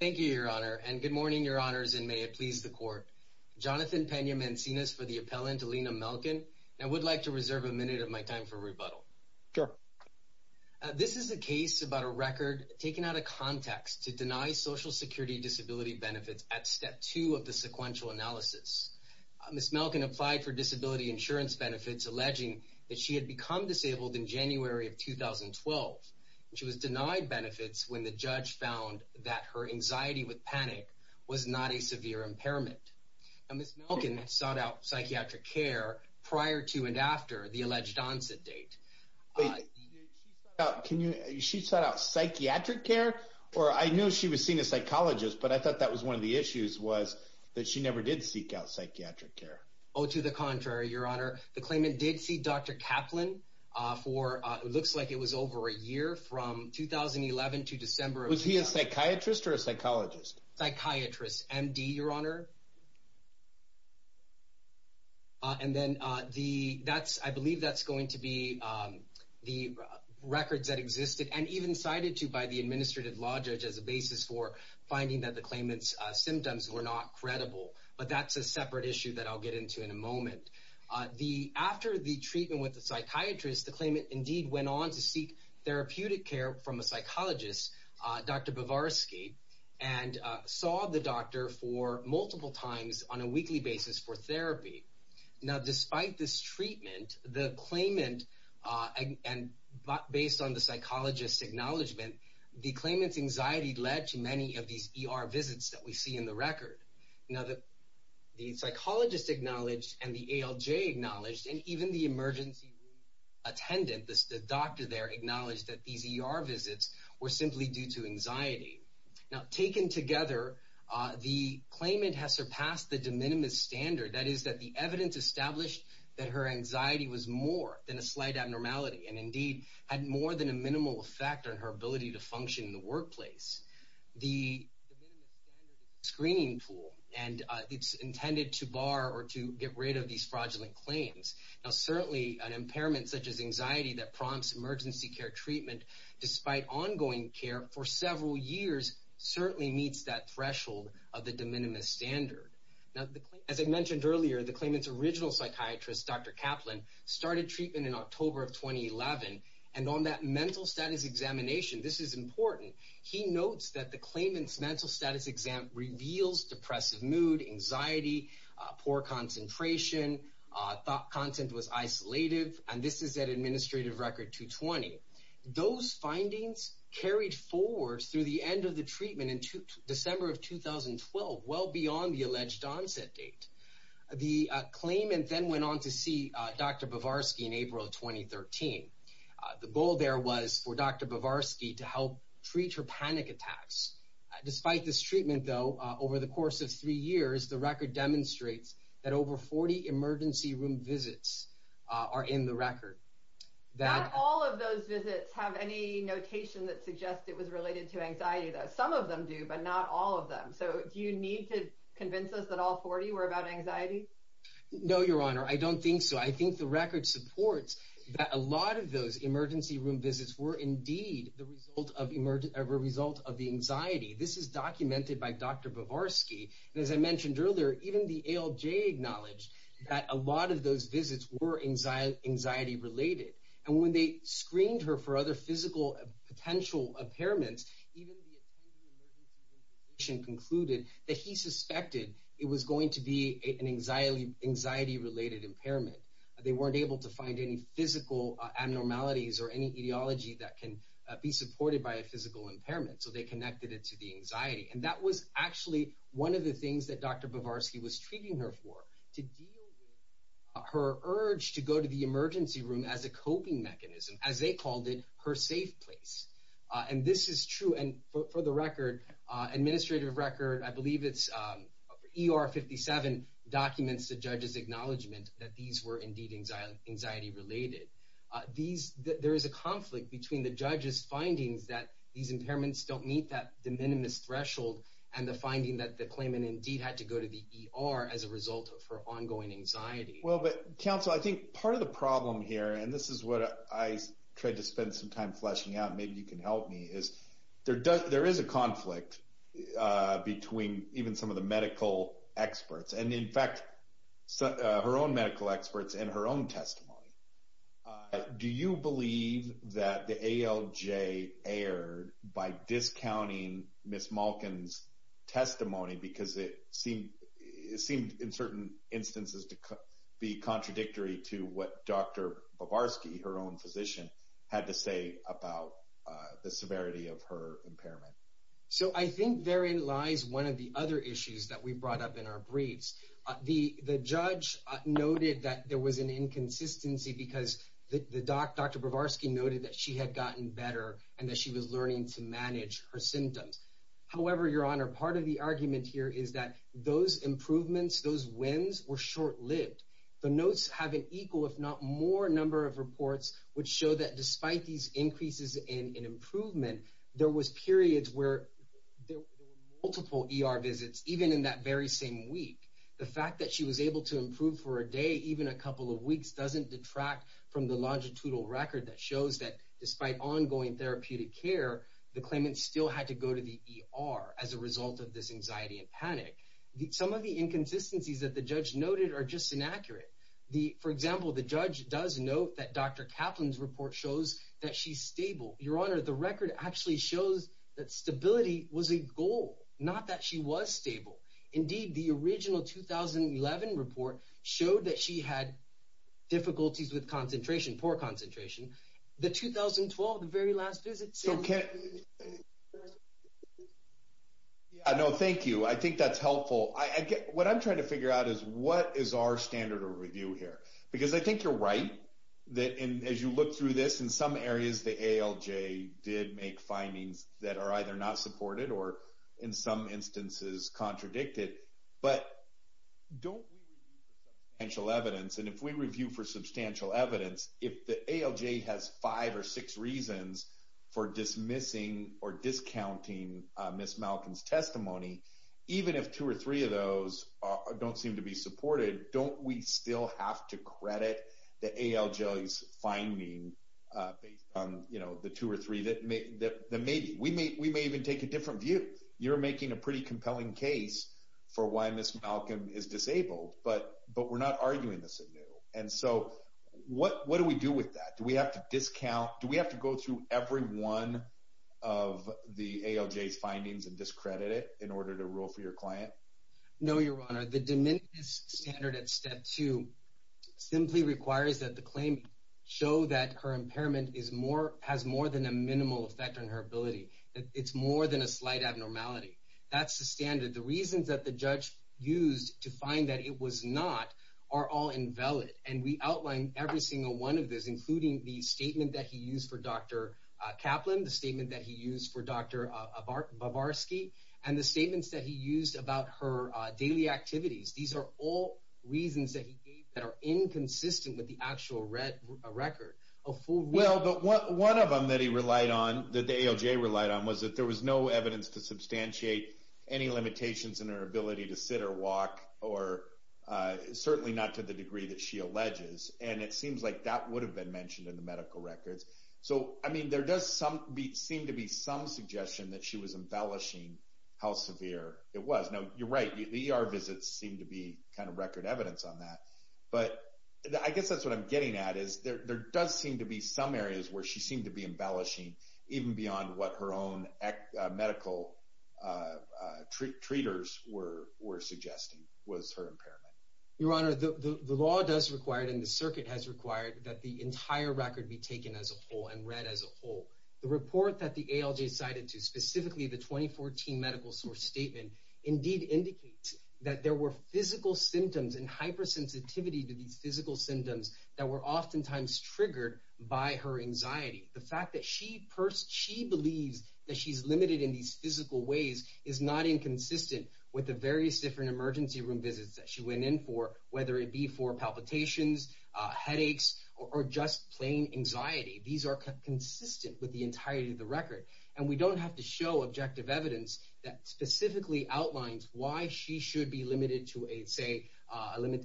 Thank you, Your Honor, and good morning, Your Honors, and may it please the Court. Jonathan Peña-Mancinas for the appellant, Alina Malkin, and I would like to reserve a minute of my time for rebuttal. This is a case about a record taken out of context to deny Social Security disability benefits at Step 2 of the sequential analysis. Ms. Malkin applied for disability insurance benefits, alleging that she had become disabled in January of 2012. She was denied benefits when the judge found that her anxiety with panic was not a severe impairment. Now, Ms. Malkin sought out psychiatric care prior to and after the alleged onset date. She sought out psychiatric care, or I knew she was seeing a psychologist, but I thought that was one of the issues, was that she never did seek out psychiatric care. Oh, to the contrary, Your Honor. The claimant did see Dr. Kaplan for, it looks like it was over a year, from 2011 to December of 2012. Was he a psychiatrist or a psychologist? Psychiatrist. M.D., Your Honor. And then the, that's, I believe that's going to be the records that existed, and even cited to by the administrative law judge as a basis for finding that the claimant's symptoms were not credible, but that's a separate issue that I'll get into in a moment. After the treatment with the psychiatrist, the claimant indeed went on to seek therapeutic care from a psychologist, Dr. Bovarsky, and saw the doctor for multiple times on a weekly basis for therapy. Now, despite this treatment, the claimant, and based on the psychologist's acknowledgement, the claimant's anxiety led to many of these ER visits that we see in the record. Now, the psychologist acknowledged, and the ALJ acknowledged, and even the emergency room attendant, the doctor there, acknowledged that these ER visits were simply due to anxiety. Now, taken together, the claimant has surpassed the de minimis standard, that is that the evidence established that her anxiety was more than a slight abnormality, and indeed had more than a minimal effect on her ability to function in the workplace. The de minimis standard is a screening tool, and it's intended to bar or to get rid of these fraudulent claims. Now, certainly an impairment such as anxiety that prompts emergency care treatment, despite ongoing care for several years, certainly meets that threshold of the de minimis standard. Now, as I mentioned earlier, the claimant's original psychiatrist, Dr. Kaplan, started treatment in October of 2011. And on that mental status examination, this is important, he notes that the claimant's mental status exam reveals depressive mood, anxiety, poor concentration, thought content was isolated, and this is at administrative record 220. Those findings carried forward through the end of the treatment in December of 2012, well beyond the alleged onset date. The claimant then went on to see Dr. Bovarsky in April of 2013. The goal there was for Dr. Bovarsky to help treat her panic attacks. Despite this treatment, though, over the course of three years, the record demonstrates that over 40 emergency room visits are in the record. Not all of those visits have any notation that suggests it was related to anxiety, though. Some of them do, but not all of them. So, do you need to convince us that all 40 were about anxiety? No, Your Honor, I don't think so. I think the record supports that a lot of those emergency room visits were indeed the result of the anxiety. This is documented by Dr. Bovarsky. As I mentioned earlier, even the ALJ acknowledged that a lot of those visits were anxiety-related. And when they screened her for other physical potential impairments, even the attending emergency room physician concluded that he suspected it was going to be an anxiety-related impairment. They weren't able to find any physical abnormalities or any etiology that can be supported by a physical impairment, so they connected it to the anxiety. And that was actually one of the things that Dr. Bovarsky was treating her for, to deal with her urge to go to the emergency room as a coping mechanism, as they called it, her safe place. And this is true. And for the record, administrative record, I believe it's ER 57, documents the judge's acknowledgement that these were indeed anxiety-related. There is a conflict between the judge's findings that these impairments don't meet that de minimis threshold and the finding that the claimant indeed had to go to the ER as a result of her ongoing anxiety. Well, but counsel, I think part of the problem here, and this is what I tried to spend some time fleshing out, maybe you can help me, is there is a conflict between even some of the medical experts, and in fact, her own medical experts and her own testimony. Do you believe that the ALJ erred by discounting Ms. Malkin's testimony because it seemed in certain instances to be contradictory to what Dr. Bovarsky, her own physician, had to say about the severity of her impairment? So I think therein lies one of the other issues that we brought up in our briefs. The judge noted that there was an inconsistency because the doc, Dr. Bovarsky, noted that she had gotten better and that she was learning to manage her symptoms. However, Your Honor, part of the argument here is that those improvements, those wins were short-lived. The notes have an equal, if not more, number of reports which show that despite these increases in improvement, there was periods where there were multiple ER visits, even in that very same week. The fact that she was able to improve for a day, even a couple of weeks, doesn't detract from the longitudinal record that shows that despite ongoing therapeutic care, the claimants still had to go to the ER as a result of this anxiety and panic. Some of the inconsistencies that the judge noted are just inaccurate. For example, the judge does note that Dr. Kaplan's report shows that she's stable. Your Honor, the record actually shows that stability was a goal, not that she was stable. Indeed, the original 2011 report showed that she had difficulties with concentration, poor concentration. The 2012, the very last visit, said that she was stable. No, thank you. I think that's helpful. What I'm trying to figure out is what is our standard of review here? Because I think you're right that as you look through this, in some areas the ALJ did make findings that are either not supported or, in some instances, contradicted. But don't we review for substantial evidence, and if we review for substantial evidence, if the ALJ has five or six reasons for dismissing or discounting Ms. Malcolm's testimony, even if two or three of those don't seem to be supported, don't we still have to credit the ALJ's finding based on, you know, the two or three that may be? We may even take a different view. You're making a pretty compelling case for why Ms. Malcolm is disabled, but we're not arguing this at new. And so what do we do with that? Do we have to discount, do we have to go through every one of the ALJ's findings and discredit it in order to rule for your client? No, Your Honor. The diminished standard at step two simply requires that the claimant show that her impairment is more, has more than a minimal effect on her ability. It's more than a slight abnormality. That's the standard. The reasons that the judge used to find that it was not are all invalid, and we outline every single one of those, including the statement that he used for Dr. Kaplan, the statement that he used for Dr. Bavarsky, and the statements that he used about her daily activities. These are all reasons that he gave that are inconsistent with the actual record. Well, but one of them that he relied on, that the ALJ relied on, was that there was no evidence to substantiate any limitations in her ability to sit or walk, or certainly not to the degree that she alleges. And it seems like that would have been mentioned in the medical records. So I mean, there does seem to be some suggestion that she was embellishing how severe it was. Now, you're right. The ER visits seem to be kind of record evidence on that. But I guess that's what I'm getting at, is there does seem to be some areas where she seemed to be embellishing, even beyond what her own medical treaters were suggesting, was her impairment. Your Honor, the law does require, and the circuit has required, that the entire record be taken as a whole and read as a whole. The report that the ALJ cited to, specifically the 2014 medical source statement, indeed indicates that there were physical symptoms and hypersensitivity to these physical symptoms that were oftentimes triggered by her anxiety. The fact that she believes that she's limited in these physical ways is not inconsistent with the various different emergency room visits that she went in for, whether it be for palpitations, headaches, or just plain anxiety. These are consistent with the entirety of the record. And we don't have to show objective evidence that specifically outlines why she should be limited to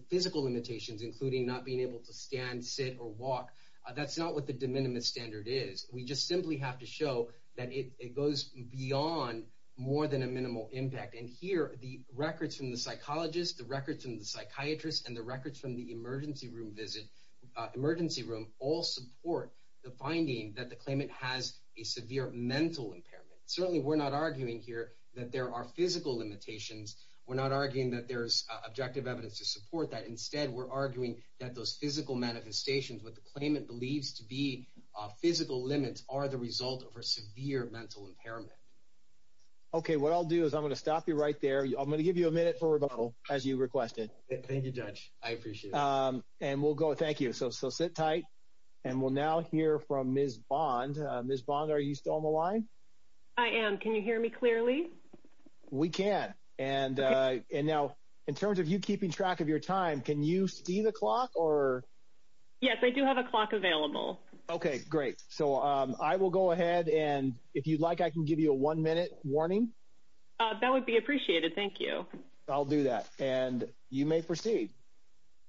physical limitations, including not being able to stand, sit, or walk. That's not what the de minimis standard is. We just simply have to show that it goes beyond more than a minimal impact. And here, the records from the psychologist, the records from the psychiatrist, and the records from the emergency room all support the finding that the claimant has a severe mental impairment. Certainly, we're not arguing here that there are physical limitations. We're not arguing that there's objective evidence to support that. Instead, we're arguing that those physical manifestations, what the claimant believes to be physical limits, are the result of her severe mental impairment. Okay. What I'll do is I'm going to stop you right there. I'm going to give you a minute for rebuttal, as you requested. Thank you, Judge. I appreciate it. And we'll go. Thank you. So sit tight. And we'll now hear from Ms. Bond. Ms. Bond, are you still on the line? I am. Can you hear me clearly? We can. Okay. And now, in terms of you keeping track of your time, can you see the clock? Yes, I do have a clock available. Okay. Great. So I will go ahead. And if you'd like, I can give you a one-minute warning. That would be appreciated. Thank you. I'll do that. And you may proceed.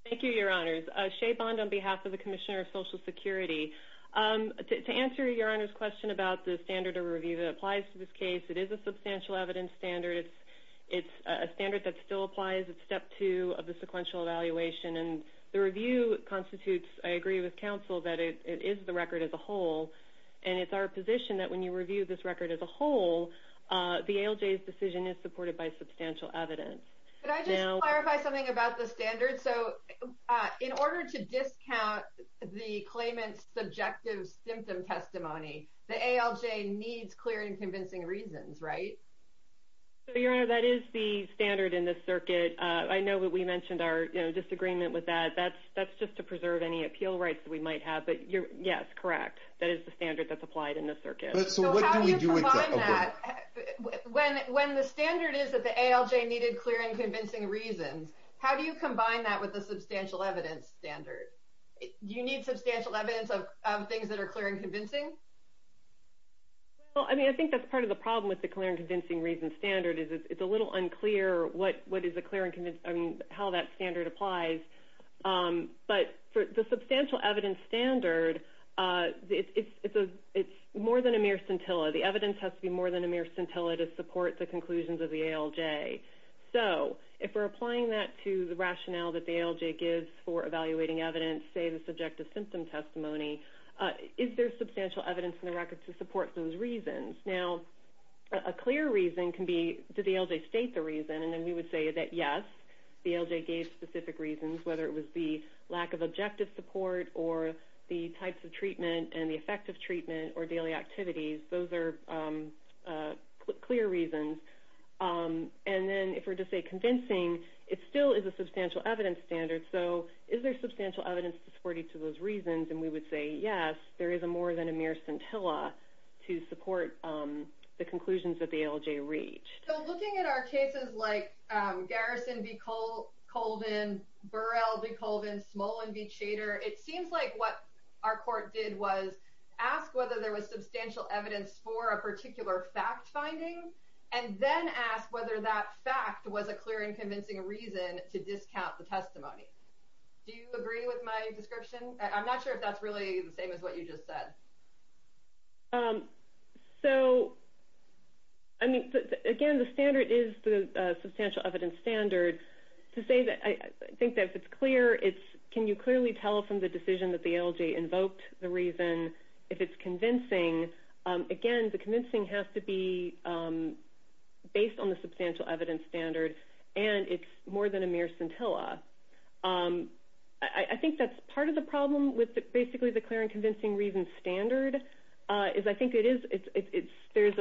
Thank you, Your Honors. Shea Bond on behalf of the Commissioner of Social Security. To answer Your Honor's question about the standard of review that applies to this case, it is a substantial evidence standard. It's a standard that still applies at Step 2 of the sequential evaluation. And the review constitutes, I agree with counsel, that it is the record as a whole. And it's our position that when you review this record as a whole, the ALJ's decision is supported by substantial evidence. Can I just clarify something about the standard? So in order to discount the claimant's subjective symptom testimony, the ALJ needs clear and convincing reasons, right? Your Honor, that is the standard in this circuit. I know that we mentioned our disagreement with that. That's just to preserve any appeal rights that we might have. But yes, correct. That is the standard that's applied in this circuit. So what do we do with that? When the standard is that the ALJ needed clear and convincing reasons, how do you combine that with the substantial evidence standard? Do you need substantial evidence of things that are clear and convincing? Well, I mean, I think that's part of the problem with the clear and convincing reasons standard is it's a little unclear what is the clear and convincing, I mean, how that standard applies. But for the substantial evidence standard, it's more than a mere scintilla. The evidence has to be more than a mere scintilla to support the conclusions of the ALJ. So if we're applying that to the rationale that the ALJ gives for evaluating evidence, say the subjective symptom testimony, is there substantial evidence in the record to support those reasons? Now, a clear reason can be, did the ALJ state the reason? And then we would say that yes, the ALJ gave specific reasons, whether it was the lack of objective support or the types of treatment and the effect of treatment or daily activities. Those are clear reasons. And then if we're to say convincing, it still is a substantial evidence standard. So is there substantial evidence to support each of those reasons? And we would say yes, there is more than a mere scintilla to support the conclusions that the ALJ reached. So looking at our cases like Garrison v. Colvin, Burrell v. Colvin, Smolin v. Chater, it seems like what our court did was ask whether there was substantial evidence for a particular fact finding and then ask whether that fact was a clear and convincing reason to discount the testimony. Do you agree with my description? I'm not sure if that's really the same as what you just said. So, I mean, again, the standard is the substantial evidence standard. To say that I think that if it's clear, it's can you clearly tell from the decision that the ALJ invoked the reason if it's convincing? Again, the convincing has to be based on the substantial evidence standard, and it's more than a mere scintilla. I think that's part of the problem with basically the clear and convincing reason standard, is I think there's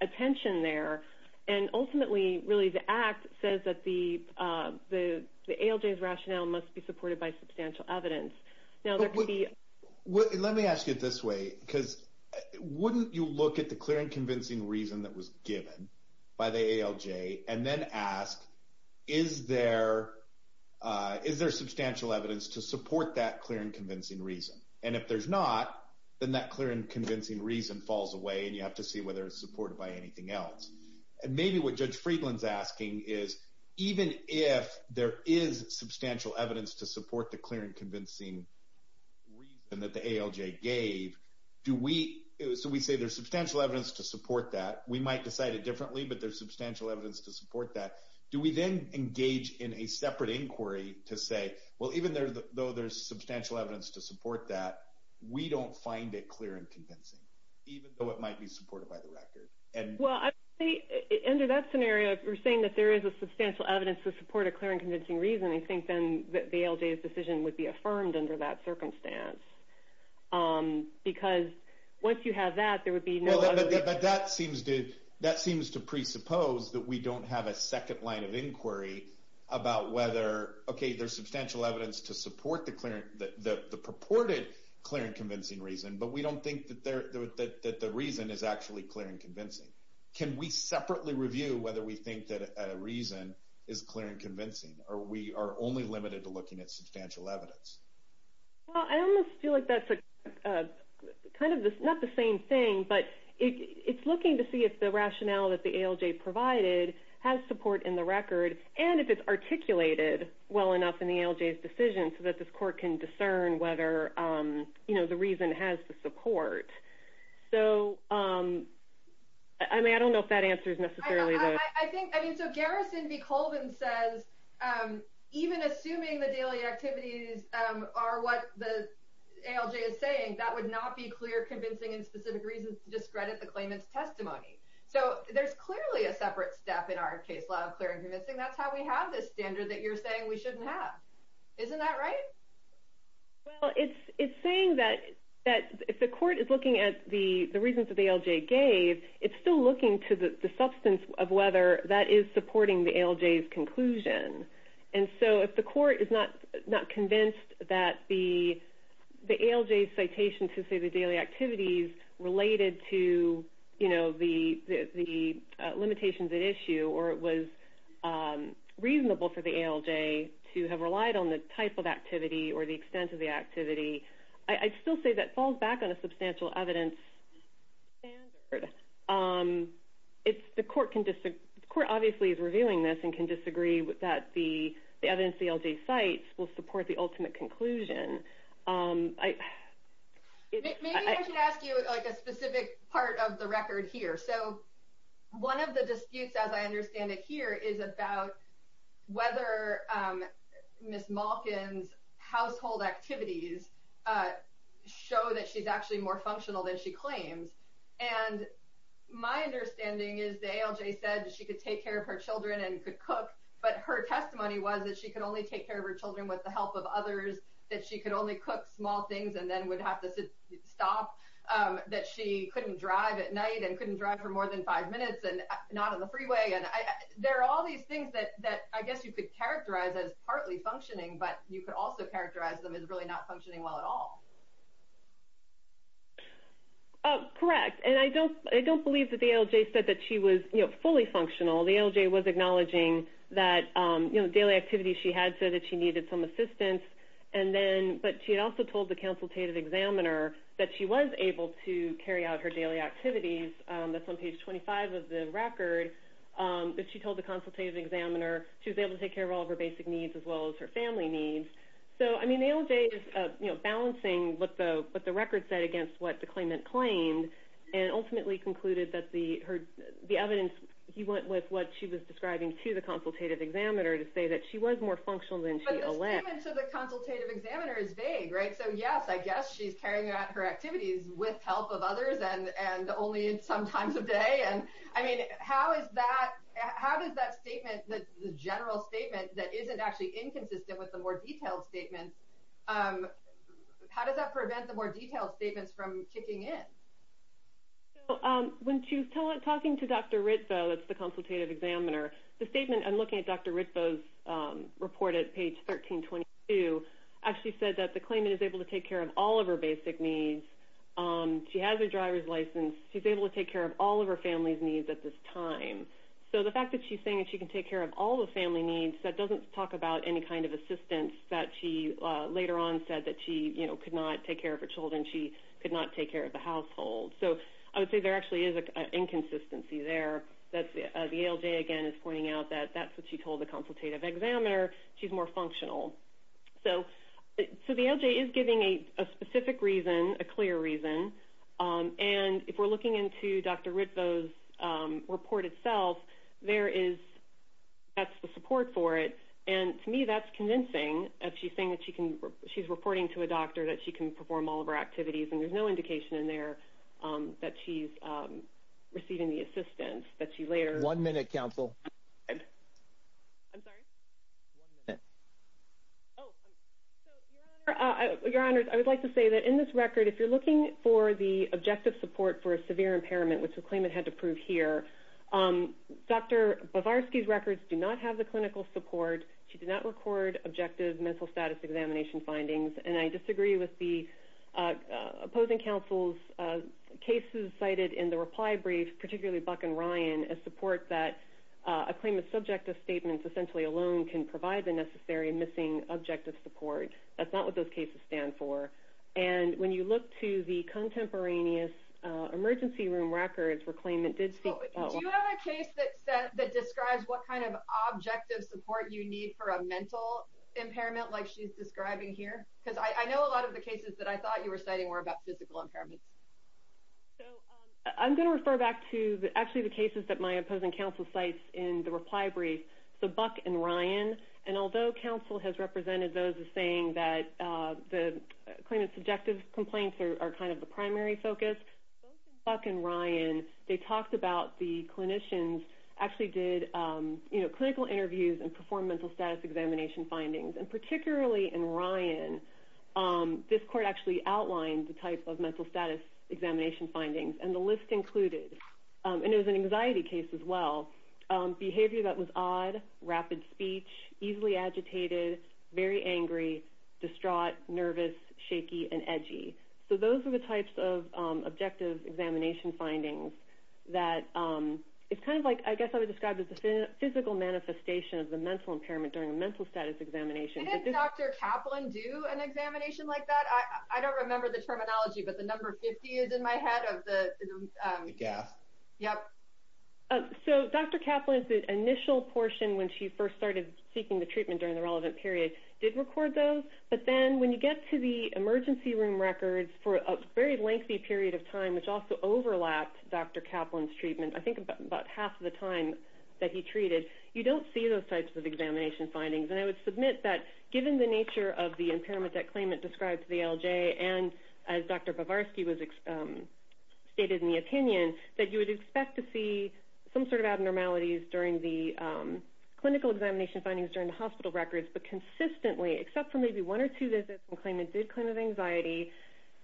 a tension there. And ultimately, really, the Act says that the ALJ's rationale must be supported by substantial evidence. Now, there could be... Let me ask you it this way, because wouldn't you look at the clear and convincing reason that was given by the ALJ and then ask, is there substantial evidence to support that clear and convincing reason? And if there's not, then that clear and convincing reason falls away and you have to see whether it's supported by anything else. And maybe what Judge Friedland's asking is, even if there is substantial evidence to support the clear and convincing reason that the ALJ gave, do we... We might decide it differently, but there's substantial evidence to support that. Do we then engage in a separate inquiry to say, well, even though there's substantial evidence to support that, we don't find it clear and convincing, even though it might be supported by the record? Well, under that scenario, if we're saying that there is a substantial evidence to support a clear and convincing reason, I think then that the ALJ's decision would be affirmed under that circumstance. Because once you have that, there would be no other... But that seems to presuppose that we don't have a second line of inquiry about whether, okay, there's substantial evidence to support the purported clear and convincing reason, but we don't think that the reason is actually clear and convincing. Can we separately review whether we think that a reason is clear and convincing, or we are only limited to looking at substantial evidence? Well, I almost feel like that's kind of not the same thing, but it's looking to see if the rationale that the ALJ provided has support in the record, and if it's articulated well enough in the ALJ's decision so that this court can discern whether the reason has the support. So, I mean, I don't know if that answers necessarily the... So Garrison B. Colvin says, even assuming the daily activities are what the ALJ is saying, that would not be clear, convincing, and specific reasons to discredit the claimant's testimony. So there's clearly a separate step in our case law of clear and convincing. That's how we have this standard that you're saying we shouldn't have. Isn't that right? Well, it's saying that if the court is looking at the reasons that the ALJ gave, it's still looking to the substance of whether that is supporting the ALJ's conclusion. And so if the court is not convinced that the ALJ's citation to say the daily activities related to, you know, the limitations at issue, or it was reasonable for the ALJ to have relied on the type of activity or the extent of the activity, I'd still say that falls back on the substantial evidence standard. The court obviously is reviewing this and can disagree that the evidence the ALJ cites will support the ultimate conclusion. Maybe I should ask you, like, a specific part of the record here. So one of the disputes, as I understand it here, is about whether Ms. Malkin's household activities show that she's actually more functional than she claims. And my understanding is the ALJ said that she could take care of her children and could cook, but her testimony was that she could only take care of her children with the help of others, that she could only cook small things and then would have to stop, that she couldn't drive at night and couldn't drive for more than five minutes and not on the freeway. And there are all these things that I guess you could characterize as partly functioning, but you could also characterize them as really not functioning well at all. Correct. And I don't believe that the ALJ said that she was fully functional. The ALJ was acknowledging that daily activities she had said that she needed some assistance, but she also told the consultative examiner that she was able to carry out her daily activities. That's on page 25 of the record that she told the consultative examiner she was able to take care of all of her basic needs as well as her family needs. So, I mean, the ALJ is balancing what the record said against what the claimant claimed and ultimately concluded that the evidence went with what she was describing to the consultative examiner to say that she was more functional than she alleged. But the statement to the consultative examiner is vague, right? So, yes, I guess she's carrying out her activities with help of others and only sometimes a day. Again, I mean, how does that statement, the general statement that isn't actually inconsistent with the more detailed statements, how does that prevent the more detailed statements from kicking in? When she was talking to Dr. Ritzo, the consultative examiner, the statement in looking at Dr. Ritzo's report at page 1322 actually said that the claimant is able to take care of all of her basic needs. She has a driver's license. She's able to take care of all of her family's needs at this time. So, the fact that she's saying that she can take care of all the family needs, that doesn't talk about any kind of assistance that she later on said that she could not take care of her children, she could not take care of the household. So, I would say there actually is an inconsistency there. The ALJ, again, is pointing out that that's what she told the consultative examiner. She's more functional. So, the ALJ is giving a specific reason, a clear reason, and if we're looking into Dr. Ritzo's report itself, that's the support for it, and to me, that's convincing that she's saying that she's reporting to a doctor that she can perform all of her activities and there's no indication in there that she's receiving the assistance that she later... One minute, counsel. I'm sorry? One minute. Oh. Your Honor, I would like to say that in this record, if you're looking for the objective support for a severe impairment, which the claimant had to prove here, Dr. Bovarsky's records do not have the clinical support. She did not record objective mental status examination findings, and I disagree with the opposing counsel's cases cited in the reply brief, particularly Buck and Ryan, as a claimant's subjective statements essentially alone can provide the necessary missing objective support. That's not what those cases stand for, and when you look to the contemporaneous emergency room records where claimant did speak... Do you have a case that describes what kind of objective support you need for a mental impairment like she's describing here? Because I know a lot of the cases that I thought you were citing were about physical impairments. So I'm going to refer back to actually the cases that my opposing counsel cites in the reply brief. So Buck and Ryan, and although counsel has represented those as saying that the claimant's subjective complaints are kind of the primary focus, both in Buck and Ryan, they talked about the clinicians actually did clinical interviews and performed mental status examination findings. And particularly in Ryan, this court actually outlined the type of mental status examination findings, and the list included, and it was an anxiety case as well, behavior that was odd, rapid speech, easily agitated, very angry, distraught, nervous, shaky, and edgy. So those are the types of objective examination findings that it's kind of like I guess I would call manifestation of the mental impairment during a mental status examination. Did Dr. Kaplan do an examination like that? I don't remember the terminology, but the number 50 is in my head of the... The GAF. Yep. So Dr. Kaplan's initial portion when she first started seeking the treatment during the relevant period did record those. But then when you get to the emergency room records for a very lengthy period of time, which also overlapped Dr. Kaplan's treatment, I think about half of the time that he treated, you don't see those types of examination findings. And I would submit that given the nature of the impairment that Klayman described to the LJ, and as Dr. Bavarsky stated in the opinion, that you would expect to see some sort of abnormalities during the clinical examination findings during the hospital records, but consistently, except for maybe one or two visits when Klayman did claim of anxiety,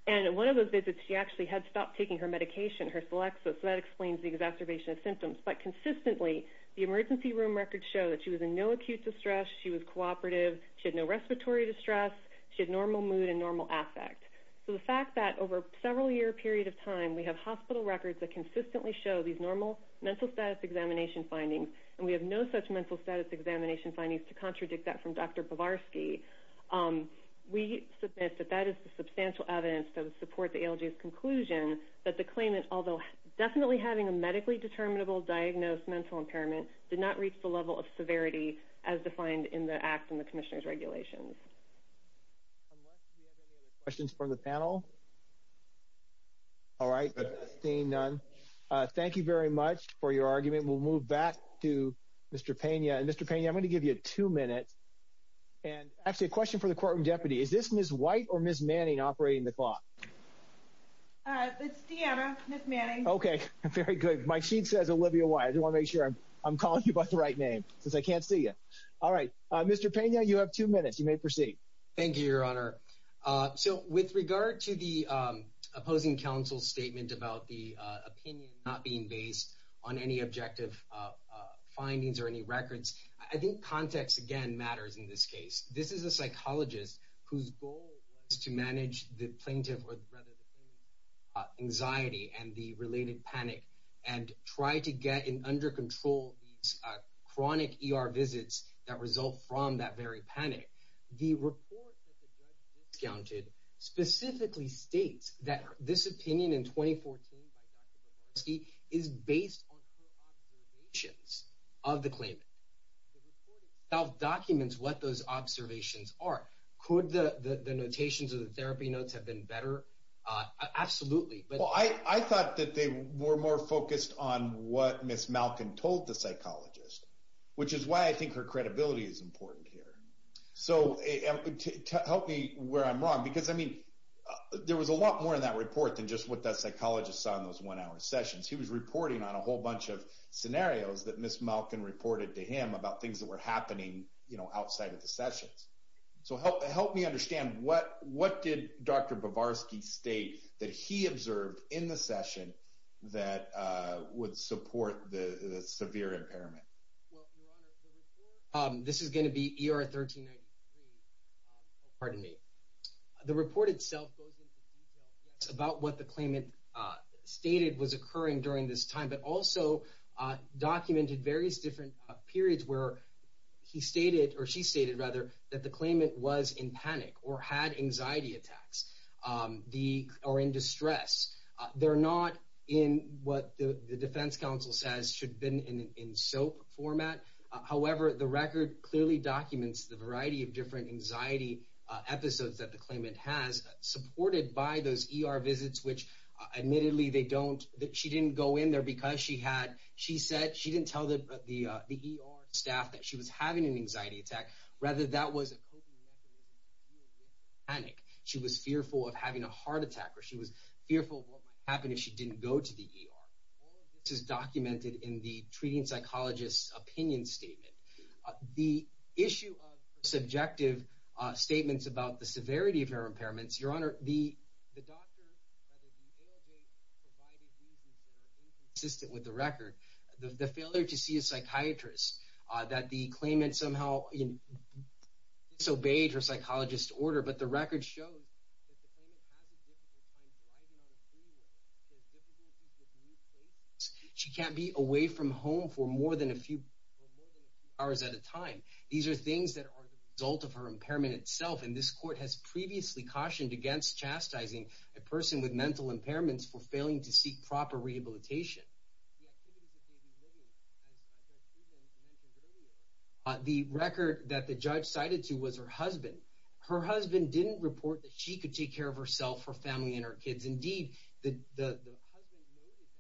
and one of those visits she actually had stopped taking her medication, her Celexis, so that explains the exacerbation of symptoms. But consistently, the emergency room records show that she was in no acute distress, she was cooperative, she had no respiratory distress, she had normal mood and normal affect. So the fact that over a several year period of time, we have hospital records that consistently show these normal mental status examination findings, and we have no such mental status examination findings to contradict that from Dr. Bavarsky, we submit that that is the substantial evidence that would support the ALJ's conclusion that the Klayman, although definitely having a medically determinable diagnosed mental impairment, did not reach the level of severity as defined in the Act and the Commissioner's regulations. Unless we have any other questions from the panel? All right, seeing none. Thank you very much for your argument. We'll move back to Mr. Pena, and Mr. Pena, I'm going to give you two minutes, and actually a question for the courtroom deputy. Is this Ms. White or Ms. Manning operating the clock? It's Deanna, Ms. Manning. Okay, very good. My sheet says Olivia White. I just want to make sure I'm calling you by the right name, since I can't see you. All right, Mr. Pena, you have two minutes. You may proceed. Thank you, Your Honor. So, with regard to the opposing counsel's statement about the opinion not being based on any objective findings or any records, I think context, again, matters in this case. This is a psychologist whose goal was to manage the plaintiff's anxiety and the related panic and try to get under control these chronic ER visits that result from that very panic. The report that the judge discounted specifically states that this opinion in 2014 by Dr. Babarsky is based on her observations of the claimant. The report itself documents what those observations are. Could the notations or the therapy notes have been better? Absolutely. Well, I thought that they were more focused on what Ms. Malkin told the psychologist, which is why I think her credibility is important here. So, help me where I'm wrong, because, I mean, there was a lot more in that report than just what that psychologist saw in those one-hour sessions. He was reporting on a whole bunch of scenarios that Ms. Malkin reported to him about things that were happening, you know, outside of the sessions. So, help me understand, what did Dr. Babarsky state that he observed in the session that would support the severe impairment? Well, Your Honor, the report, this is going to be ER 1393, oh, pardon me. The report itself goes into detail about what the claimant stated was occurring during this time, but also documented various different periods where he stated, or she stated, rather, that the claimant was in panic or had anxiety attacks or in distress. They're not in what the defense counsel says should have been in SOAP format. However, the record clearly documents the variety of different anxiety episodes that the claimant has supported by those ER visits, which, admittedly, they don't, she didn't go in there because she had, she said, she didn't tell the ER staff that she was having an anxiety attack. Rather, that was a coping mechanism to deal with panic. She was fearful of having a heart attack, or she was fearful of what might happen if she didn't go to the ER. All of this is documented in the treating psychologist's opinion statement. The issue of subjective statements about the severity of her impairments, Your Honor, the doctor, rather, the ALJ provided reasons that are inconsistent with the record. The failure to see a psychiatrist, that the claimant somehow disobeyed her psychologist's order, but the record shows that the claimant has a difficult time driving on a freeway. She has difficulties with new places. She can't be away from home for more than a few hours at a time. These are things that are the result of her impairment itself, and this court has previously cautioned against chastising a person with mental impairments for failing to seek proper rehabilitation. The activities that they be living, as Judge Suleman mentioned earlier, The record that the judge cited to was her husband. Her husband didn't report that she could take care of herself, her family, and her kids. Indeed, the husband noted that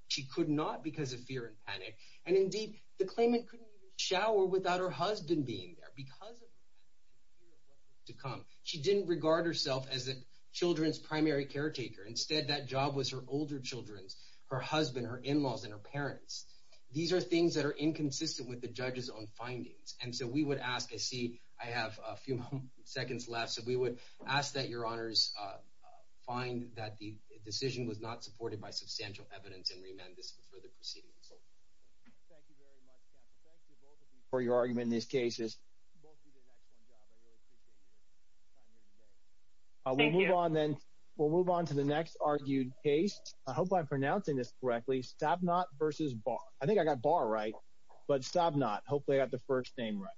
she could not because of fear and panic. And indeed, the claimant couldn't even shower without her husband being there because of her fear of what was to come. She didn't regard herself as a children's primary caretaker. Instead, that job was her older children's, her husband, her in-laws, and her parents. These are things that are inconsistent with the judge's own findings. And so we would ask, I see I have a few seconds left, We would ask that your honors find that the decision was not supported by substantial evidence and re-amend this for further proceedings. Thank you very much, counsel. Thank you both of you for your argument in these cases. Both of you did an excellent job. I really appreciate your time here today. Thank you. We'll move on to the next argued case. I hope I'm pronouncing this correctly. Stabnott v. Barr. I think I got Barr right, but Stabnott. Hopefully I got the first name right.